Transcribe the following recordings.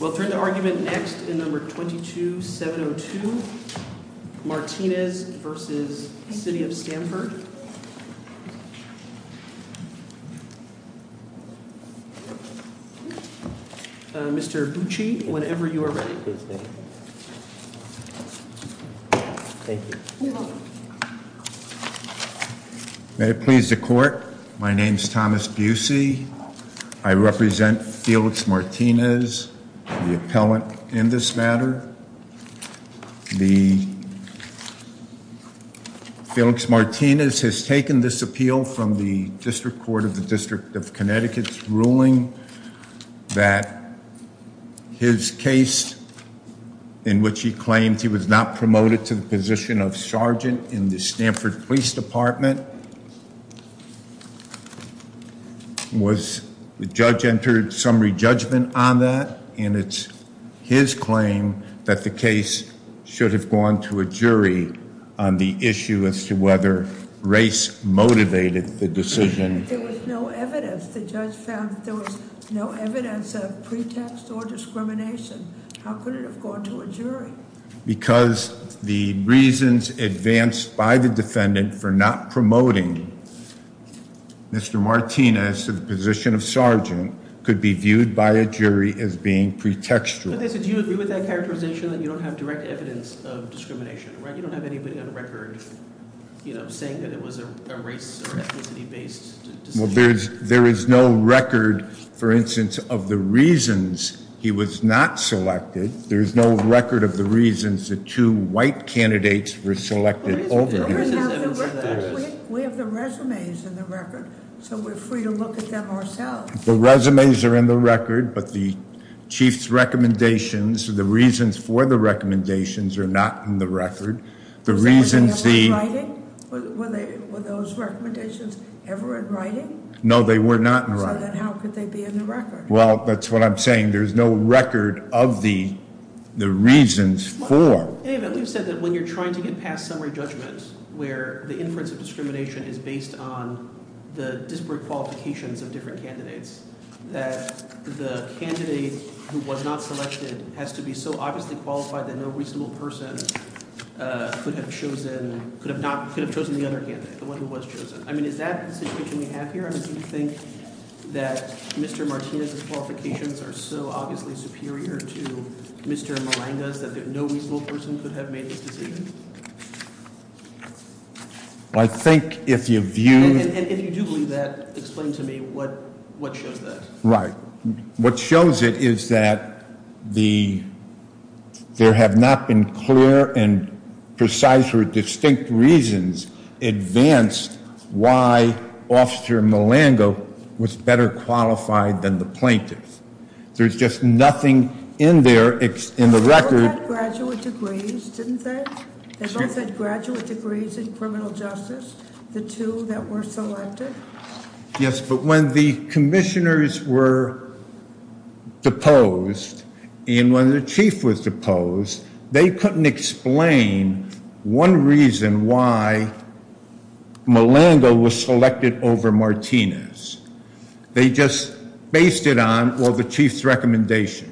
We'll turn the argument next in number 22 702 Martinez vs. City of Stamford Mr. Buchi, whenever you are ready May it please the court my name is Thomas Busey. I represent Felix Martinez The appellant in this matter The Felix Martinez has taken this appeal from the District Court of the District of Connecticut's ruling that his case in Which he claims he was not promoted to the position of sergeant in the Stamford Police Department Was The judge entered summary judgment on that and it's his claim that the case Should have gone to a jury on the issue as to whether race Motivated the decision There was no evidence the judge found there was no evidence of pretext or discrimination How could it have gone to a jury? Because the reasons advanced by the defendant for not promoting Mr. Martinez to the position of sergeant could be viewed by a jury as being pretextual Do you agree with that characterization that you don't have direct evidence of discrimination, right? You don't have anybody on the record You know saying that it was a race Well, there's there is no record for instance of the reasons he was not selected There is no record of the reasons that two white candidates were selected over The resumes are in the record but the chief's recommendations the reasons for the Writing No, they were not Well, that's what I'm saying, there's no record of the reasons for I Think if you view Right what shows it is that the there have not been clear and Precise or distinct reasons advanced why Officer Milango was better qualified than the plaintiffs. There's just nothing in there Yes, but when the commissioners were Deposed and when the chief was deposed they couldn't explain one reason why Milango was selected over Martinez. They just based it on or the chief's recommendation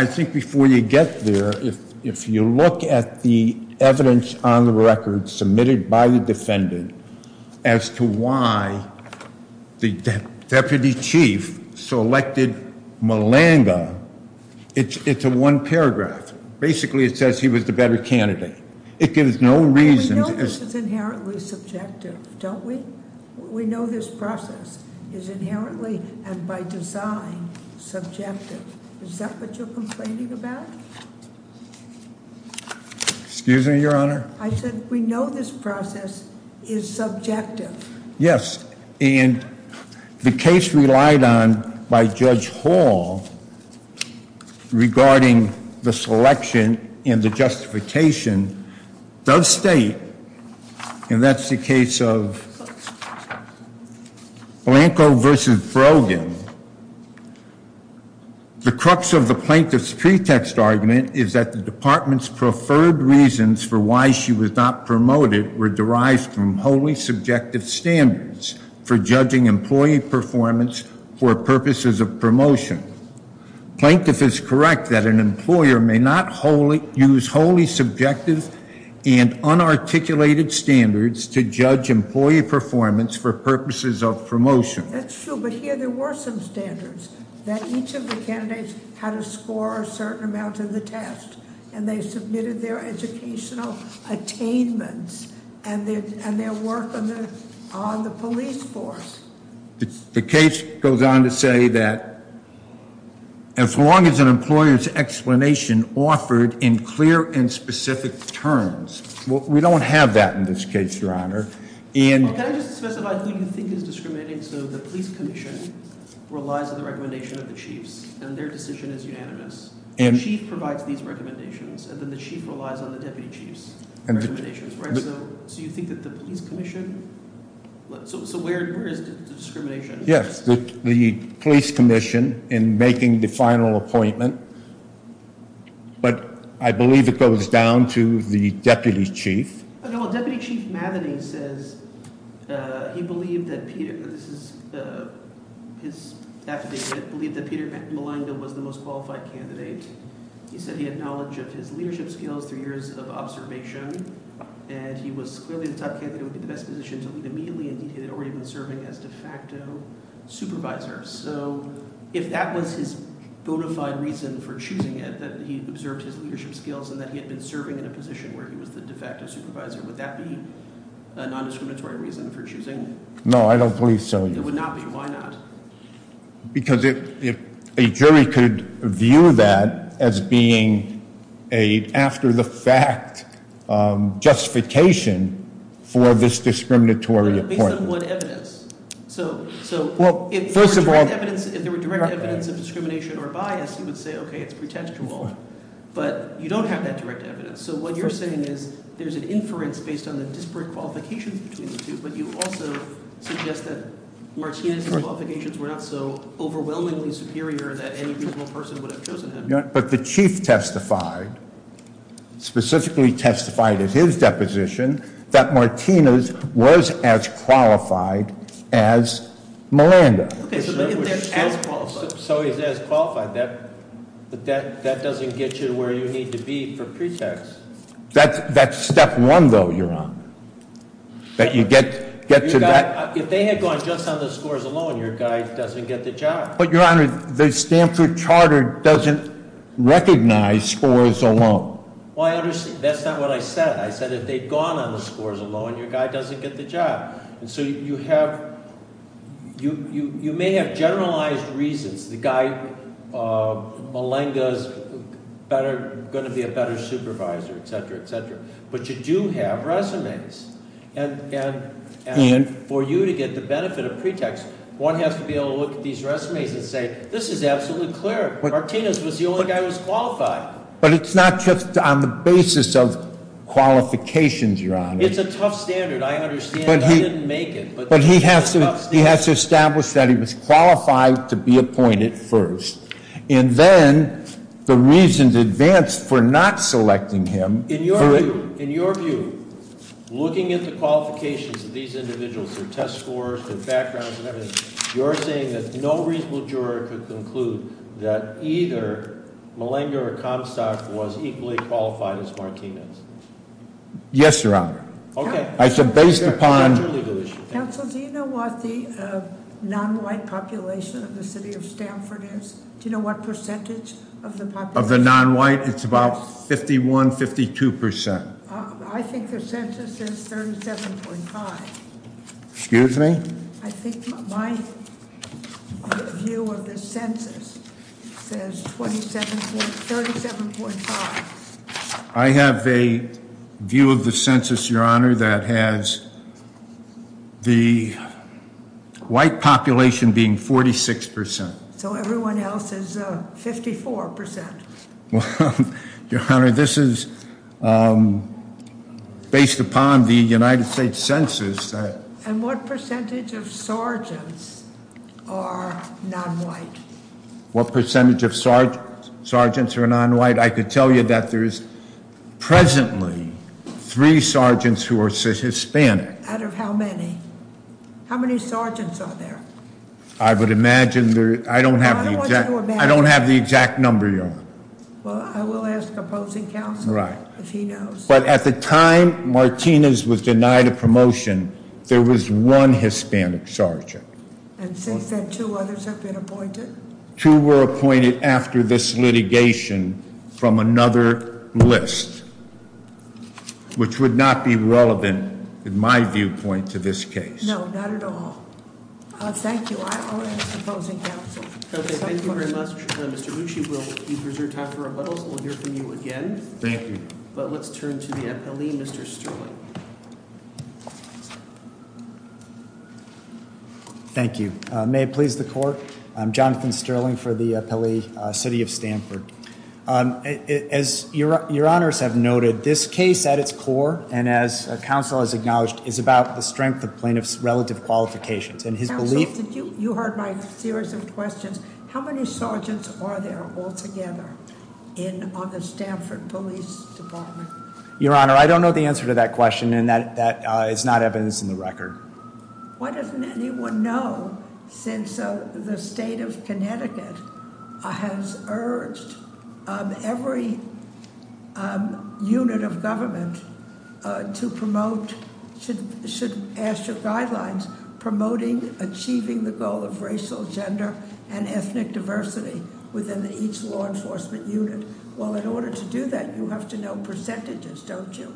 I Think before you get there if if you look at the evidence on the record submitted by the defendant as to why Deputy chief selected Milango It's it's a one paragraph Basically, it says he was the better candidate. It gives no reason Excuse me, your honor. I said we know this process is subjective Yes, and the case relied on by Judge Hall Regarding the selection and the justification does state and that's the case of Blanco versus Brogan The crux of the plaintiff's pretext argument is that the department's preferred reasons for why she was not promoted were derived from wholly subjective standards for judging employee performance for purposes of promotion Plaintiff is correct that an employer may not wholly use wholly subjective and Unarticulated standards to judge employee performance for purposes of promotion That's true But here there were some standards that each of the candidates had a score a certain amount of the test and they submitted their educational Attainments and their work on the police force the case goes on to say that As long as an employer's explanation offered in clear and specific terms We don't have that in this case your honor So you think that the police commission Yes, the police commission in making the final appointment But I believe it goes down to the deputy chief And he was Supervisors, so if that was his bona fide reason for choosing it that he observed his leadership skills and that he had been serving in A position where he was the de facto supervisor. Would that be a Non-discriminatory reason for choosing? No, I don't believe so. It would not be why not? because if a jury could view that as being a After-the-fact Justification for this discriminatory But the chief testified Specifically testified as his deposition that Martinez was as qualified as Melanda So he's as qualified that But that that doesn't get you where you need to be for pretext. That's that's step one though your honor That you get get to that if they had gone just on the scores alone your guy doesn't get the job But your honor the Stanford charter doesn't Recognize scores alone. Well, I understand that's not what I said I said if they'd gone on the scores alone, your guy doesn't get the job. And so you have You you you may have generalized reasons the guy Malinga's better going to be a better supervisor, etc, etc, but you do have resumes and For you to get the benefit of pretext one has to be able to look at these resumes and say this is absolutely clear Martinez was the only guy was qualified, but it's not just on the basis of Qualifications your honor. It's a tough standard But he has to he has to establish that he was qualified to be appointed first and then The reasons advanced for not selecting him in your in your view Looking at the qualifications of these individuals or test scores and backgrounds and everything you're saying that no reasonable juror could conclude that either Malinga or Comstock was equally qualified as Martinez Yes, your honor. Okay, I said based upon Council, do you know what the? Non-white population of the city of Stanford is do you know what percentage of the of the non-white? It's about 51 52 percent Excuse me I Have a view of the census your honor that has the White population being 46 percent. So everyone else is 54 percent your honor, this is Based upon the United States census and what percentage of sergeants are Non-white What percentage of sergeants are non-white? I could tell you that there is presently Three sergeants who are so Hispanic out of how many? How many sergeants are there? I would imagine there. I don't have I don't have the exact number your honor But at the time Martinez was denied a promotion. There was one Hispanic sergeant Two were appointed after this litigation from another list Which would not be relevant in my viewpoint to this case Thank You may please the court, I'm Jonathan Sterling for the Pele City of Stanford as your your honors have noted this case at its core and as Council has acknowledged is about the strength of plaintiffs relative qualifications and his belief Did you you heard my series of questions? How many sergeants are there all together in on the Stanford Police? Your honor, I don't know the answer to that question and that that is not evidence in the record Why doesn't anyone know? Since the state of Connecticut has urged every Unit of government to promote Should ask your guidelines Promoting achieving the goal of racial gender and ethnic diversity within the each law enforcement unit Well in order to do that, you have to know percentages, don't you?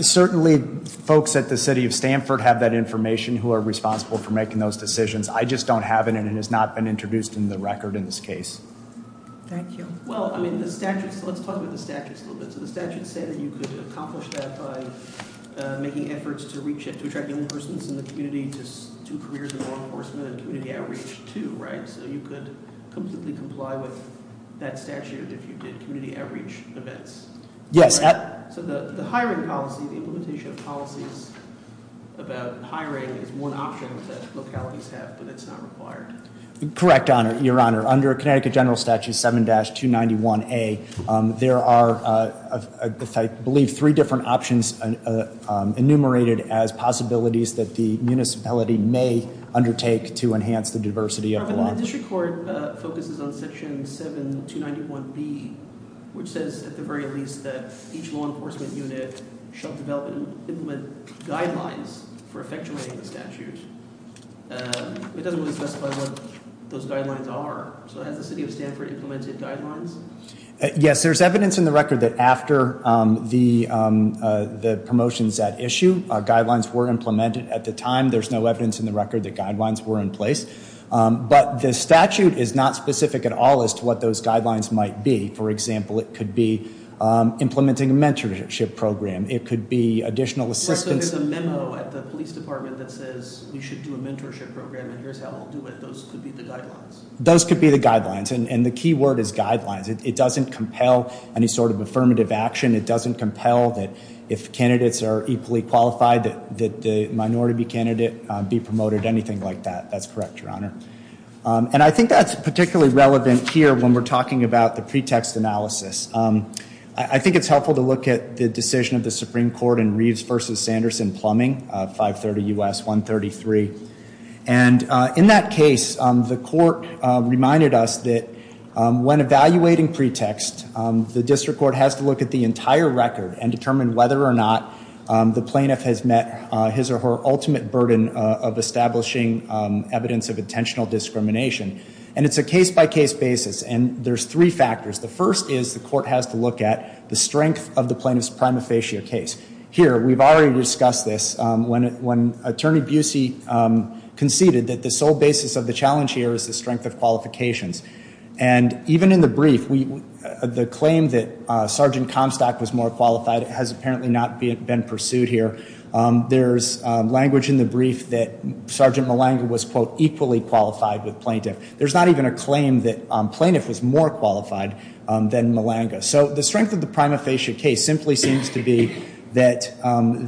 Certainly folks at the city of Stanford have that information who are responsible for making those decisions I just don't have it and it has not been introduced in the record in this case Thank you Yes Correct honor your honor under a Connecticut general statute 7-291 a there are believe three different options and enumerated as possibilities that the Municipality may undertake to enhance the diversity of the district court Section 7-291 B Which says at the very least that each law enforcement unit shall develop and implement guidelines for effectuating the statutes Yes, there's evidence in the record that after the The promotions that issue guidelines were implemented at the time. There's no evidence in the record that guidelines were in place But the statute is not specific at all as to what those guidelines might be for example, it could be Implementing a mentorship program. It could be additional assistance Those could be the guidelines and the key word is guidelines. It doesn't compel any sort of affirmative action It doesn't compel that if candidates are equally qualified that the minority candidate be promoted anything like that. That's correct Your honor and I think that's particularly relevant here when we're talking about the pretext analysis I think it's helpful to look at the decision of the Supreme Court and Reeves versus Sanderson plumbing 530 us 133 and In that case the court reminded us that When evaluating pretext the district court has to look at the entire record and determine whether or not The plaintiff has met his or her ultimate burden of establishing Evidence of intentional discrimination and it's a case-by-case basis and there's three factors The first is the court has to look at the strength of the plaintiff's prima facie a case here We've already discussed this when it when attorney Busey conceded that the sole basis of the challenge here is the strength of qualifications and even in the brief we The claim that sergeant Comstock was more qualified it has apparently not been pursued here There's language in the brief that sergeant Malanga was quote equally qualified with plaintiff There's not even a claim that plaintiff was more qualified than Malanga so the strength of the prima facie case simply seems to be that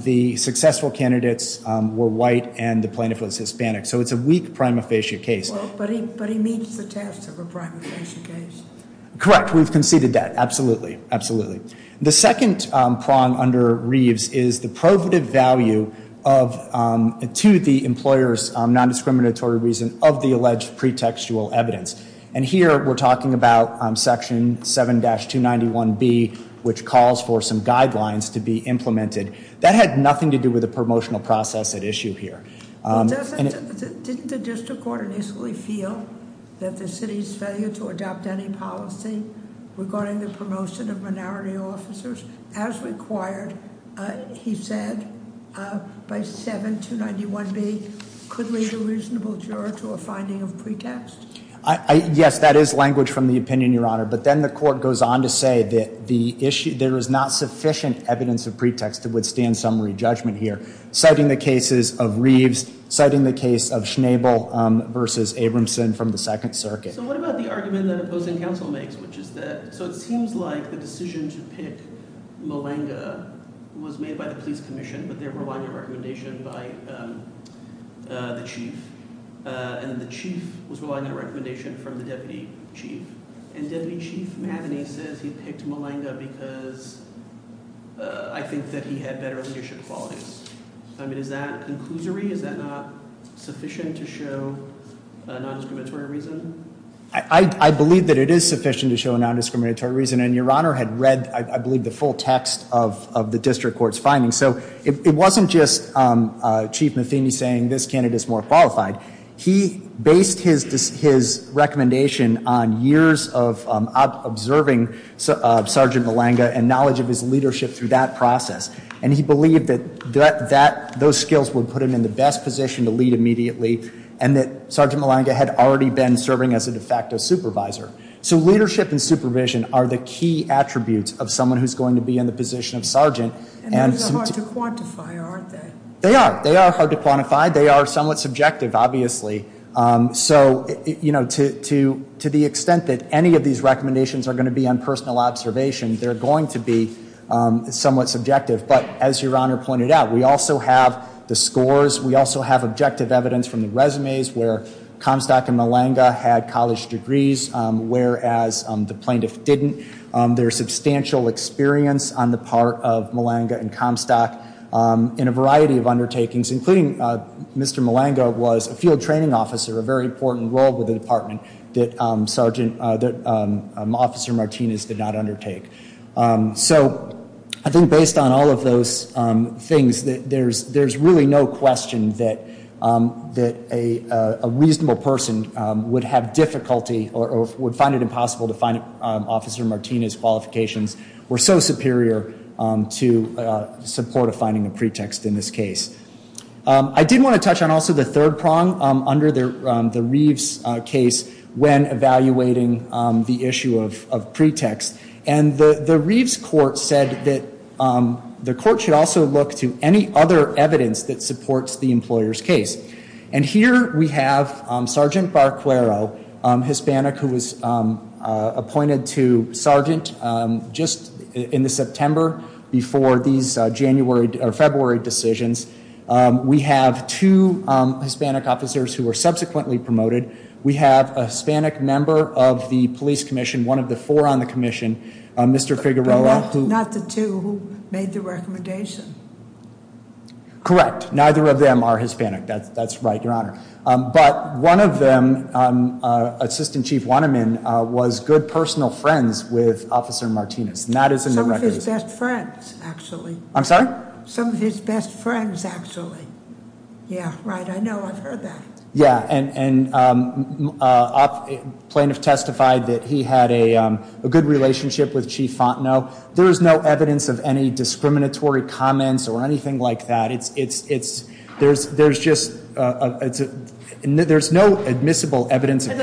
The successful candidates were white and the plaintiff was Hispanic. So it's a weak prima facie case But he meets the test of a prima facie case Correct. We've conceded that absolutely. Absolutely. The second prong under Reeves is the probative value of to the employers non-discriminatory reason of the alleged pretextual evidence and here we're talking about Section 7-291 B which calls for some guidelines to be implemented That had nothing to do with a promotional process at issue here Didn't the district court initially feel that the city's failure to adopt any policy regarding the promotion of minority officers as required he said By 7-291 B could lead a reasonable juror to a finding of pretext Yes, that is language from the opinion your honor But then the court goes on to say that the issue there is not sufficient evidence of pretext to withstand summary judgment here Citing the cases of Reeves citing the case of Schnabel versus Abramson from the Second Circuit Is that conclusory? Is that not sufficient to show a non-discriminatory reason? I Believe that it is sufficient to show a non-discriminatory reason and your honor had read I believe the full text of the district courts finding so it wasn't just Chief Matheny saying this candidate is more qualified. He based his recommendation on years of observing Sergeant Malanga and knowledge of his leadership through that process and he believed that that that those skills would put him in the best Position to lead immediately and that sergeant Malanga had already been serving as a de facto supervisor So leadership and supervision are the key attributes of someone who's going to be in the position of sergeant They are they are hard to quantify they are somewhat subjective obviously So, you know to to the extent that any of these recommendations are going to be on personal observation, they're going to be Somewhat subjective but as your honor pointed out, we also have the scores We also have objective evidence from the resumes where Comstock and Malanga had college degrees Whereas the plaintiff didn't their substantial experience on the part of Malanga and Comstock in a variety of undertakings including Mr. Malanga was a field training officer a very important role with the department that sergeant that officer Martinez did not undertake So I think based on all of those things that there's there's really no question that that a Reasonable person would have difficulty or would find it impossible to find officer Martinez qualifications were so superior to support of finding a pretext in this case I didn't want to touch on also the third prong under there the Reeves case when evaluating the issue of pretext and the the Reeves court said that the court should also look to any other evidence that supports the employers case and here we have sergeant Barquero Hispanic who was appointed to sergeant just in the September before these January or February decisions and We have two Hispanic officers who were subsequently promoted. We have a Hispanic member of the Police Commission one of the four on the Commission Mr. Figueroa, not the two who made the recommendation Correct. Neither of them are Hispanic. That's that's right, Your Honor, but one of them Assistant Chief Wanamon was good personal friends with officer Martinez not as a Friend actually, I'm sorry, some of his best friends actually Yeah, right. I know I've heard that. Yeah, and and Plaintiff testified that he had a a good relationship with Chief Fontenot There is no evidence of any discriminatory comments or anything like that. It's it's it's there's there's just There's no admissible evidence The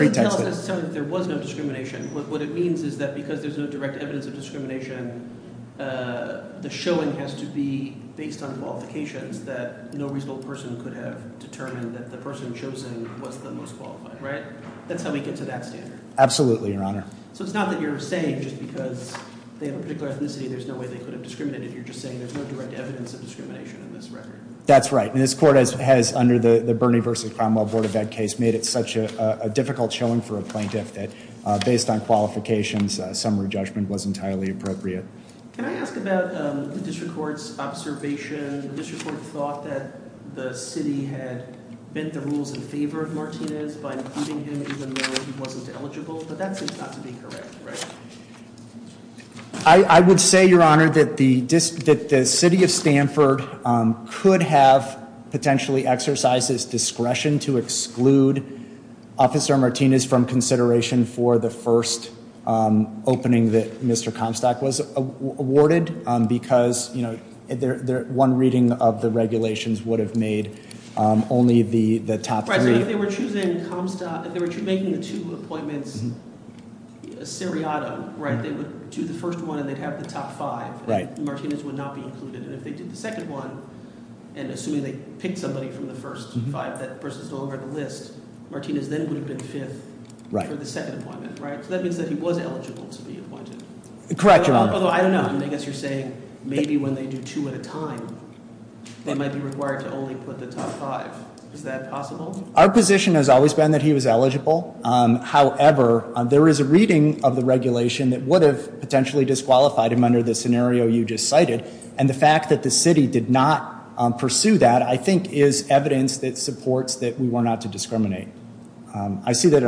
showing has to be based on qualifications that no reasonable person could have determined that the person chosen Right, that's how we get to that standard. Absolutely, Your Honor. So it's not that you're saying just because they have a particular ethnicity There's no way they could have discriminated. You're just saying there's no direct evidence of discrimination in this record. That's right and this court has has under the the Bernie versus Cromwell Board of Ed case made it such a difficult showing for a plaintiff that based on qualifications summary judgment was entirely appropriate and Asked about the district court's observation This report thought that the city had bent the rules in favor of Martinez by meeting him Even though he wasn't eligible, but that seems not to be correct, right? I Would say your honor that the just that the city of Stanford Could have potentially exercised its discretion to exclude officer Martinez from consideration for the first Opening that mr. Comstock was awarded because you know, they're there one reading of the regulations would have made Only the the top right if they were choosing Comstock if they were to making the two appointments Seriato right they would do the first one and they'd have the top five right Martinez would not be included and if they did the Second one and assuming they picked somebody from the first five that person's all over the list Martinez then would have been fifth right for the second appointment, right? So that means that he was eligible to be appointed Correct your honor. Oh, I don't know. I guess you're saying maybe when they do two at a time They might be required to only put the top five. Is that possible? Our position has always been that he was eligible however, there is a reading of the regulation that would have potentially disqualified him under the scenario you just cited and the fact that the I see that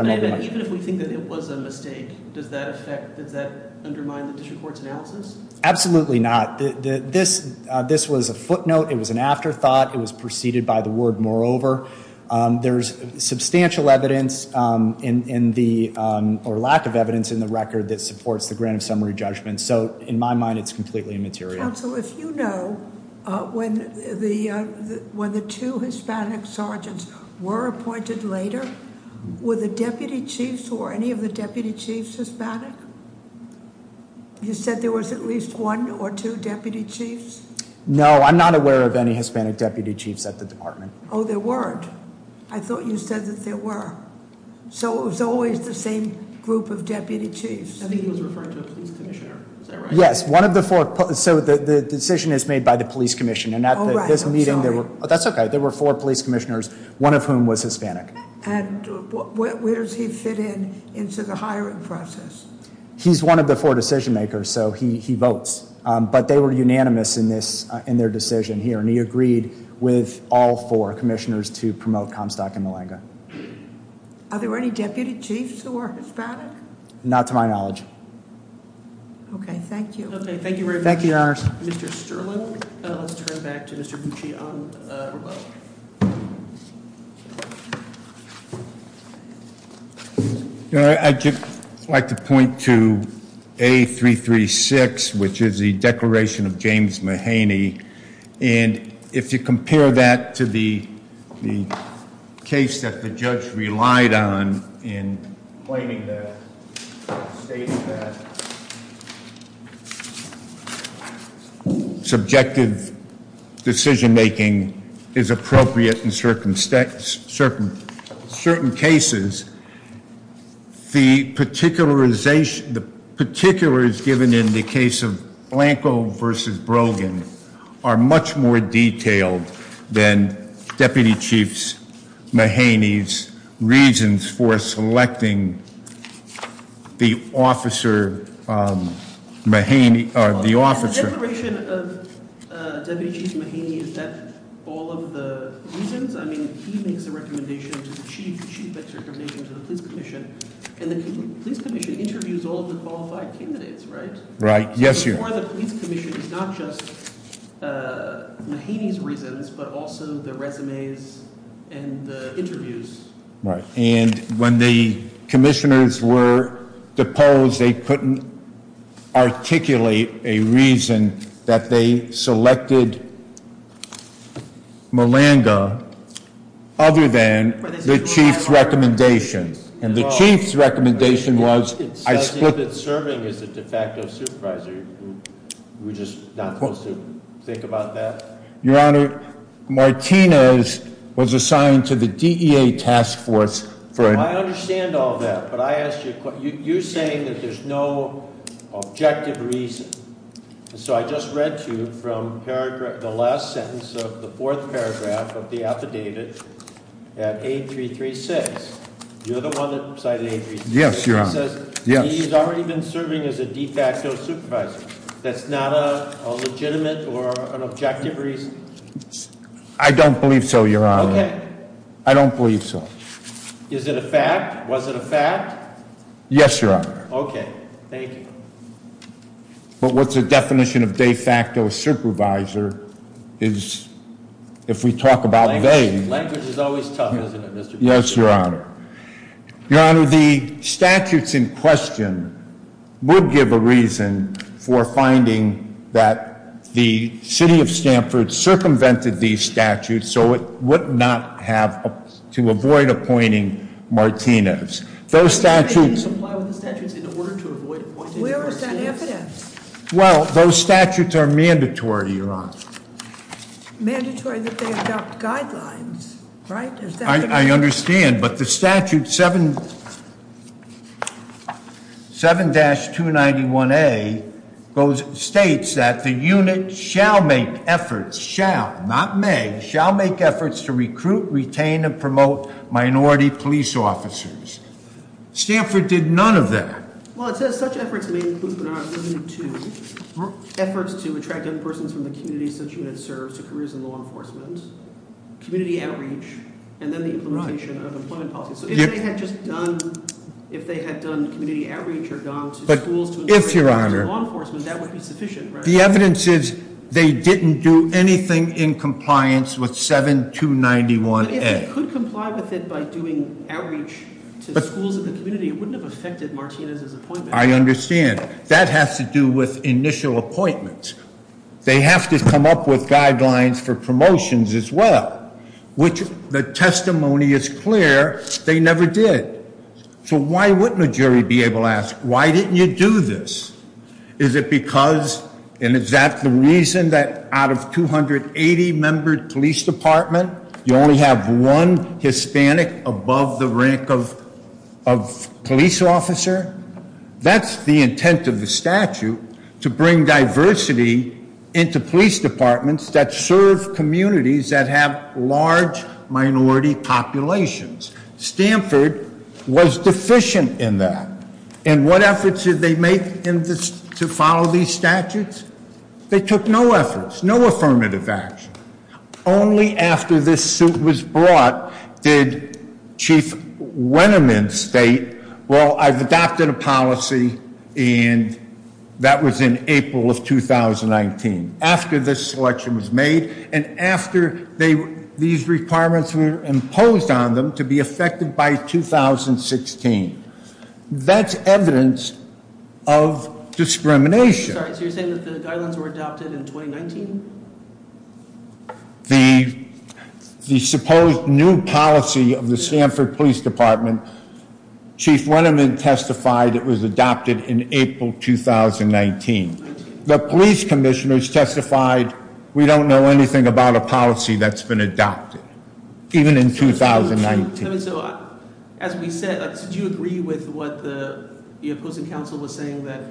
Absolutely not this this was a footnote. It was an afterthought. It was preceded by the word moreover There's substantial evidence in in the or lack of evidence in the record that supports the grant of summary judgment So in my mind, it's completely material When the With the deputy chiefs or any of the deputy chiefs Hispanic You said there was at least one or two deputy chiefs. No, I'm not aware of any Hispanic deputy chiefs at the department Oh, there weren't I thought you said that there were So it was always the same group of deputy chiefs Yes, one of the four so the decision is made by the Police Commission and at this meeting there were that's okay There were four police commissioners one of whom was Hispanic He's one of the four decision-makers so he he votes But they were unanimous in this in their decision here and he agreed with all four commissioners to promote Comstock and Malanga Are there any deputy chiefs who are Hispanic? Not to my knowledge? Okay, thank you I Just like to point to a 336 which is the declaration of James Mahaney and if you compare that to the Case that the judge relied on in Claiming that Subjective decision-making is appropriate in circumstance certain certain cases the particularization the particular is given in the case of Blanco versus Brogan are much more detailed than deputy chiefs Mahaney's reasons for selecting the officer Mahaney are the officer Right, yes When the commissioners were deposed they couldn't Articulate a reason that they selected Malanga other than the chief's recommendations and the chief's recommendation was Your honor Martinez was assigned to the DEA task force You saying that there's no objective reason So I just read to you from paragraph the last sentence of the fourth paragraph of the affidavit at 8336 Yes, your honor. Yes, he's already been serving as a de facto supervisor. That's not a legitimate or an objective reason I don't believe so your honor. I don't believe so. Is it a fact? Was it a fact? Yes, your honor. Okay But what's the definition of de facto supervisor is if we talk about Yes, your honor Your honor the statutes in question Would give a reason for finding that the city of Stanford Circumvented these statutes so it would not have to avoid appointing Martinez those statutes Well, those statutes are mandatory your honor I understand but the statute 7 7-291 a Those states that the unit shall make efforts shall not may shall make efforts to recruit retain and promote minority police officers Stanford did none of that If they had done But if your honor The evidence is they didn't do anything in compliance with 7291 a I understand that has to do with initial appointments They have to come up with guidelines for promotions as well Which the testimony is clear they never did So why wouldn't a jury be able to ask why didn't you do this? Is it because and is that the reason that out of 280 membered police department? you only have one Hispanic above the rank of police officer That's the intent of the statute to bring diversity Into police departments that serve communities that have large minority populations Stanford was deficient in that and what efforts did they make in this to follow these statutes? They took no efforts. No affirmative action Only after this suit was brought did Chief Wenerman state well, I've adopted a policy and That was in April of 2019 after this selection was made and after they these requirements were imposed on them to be affected by 2016 that's evidence of Discrimination The The supposed new policy of the Stanford Police Department She's one of them testified it was adopted in April 2019 the police commissioners testified. We don't know anything about a policy that's been adopted even in 2019 as we said do you agree with what the opposing counsel was saying that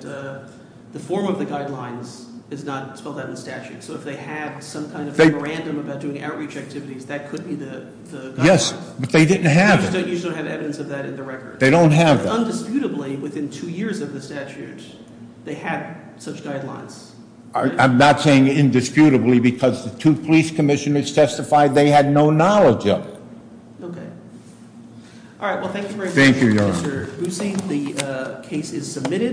The form of the guidelines is not spelled out in statute So if they have some kind of a random about doing outreach activities that could be the yes They didn't have They don't have Undisputably within two years of the statute. They had such guidelines I'm not saying indisputably because the two police commissioners testified. They had no knowledge of Cases submitted You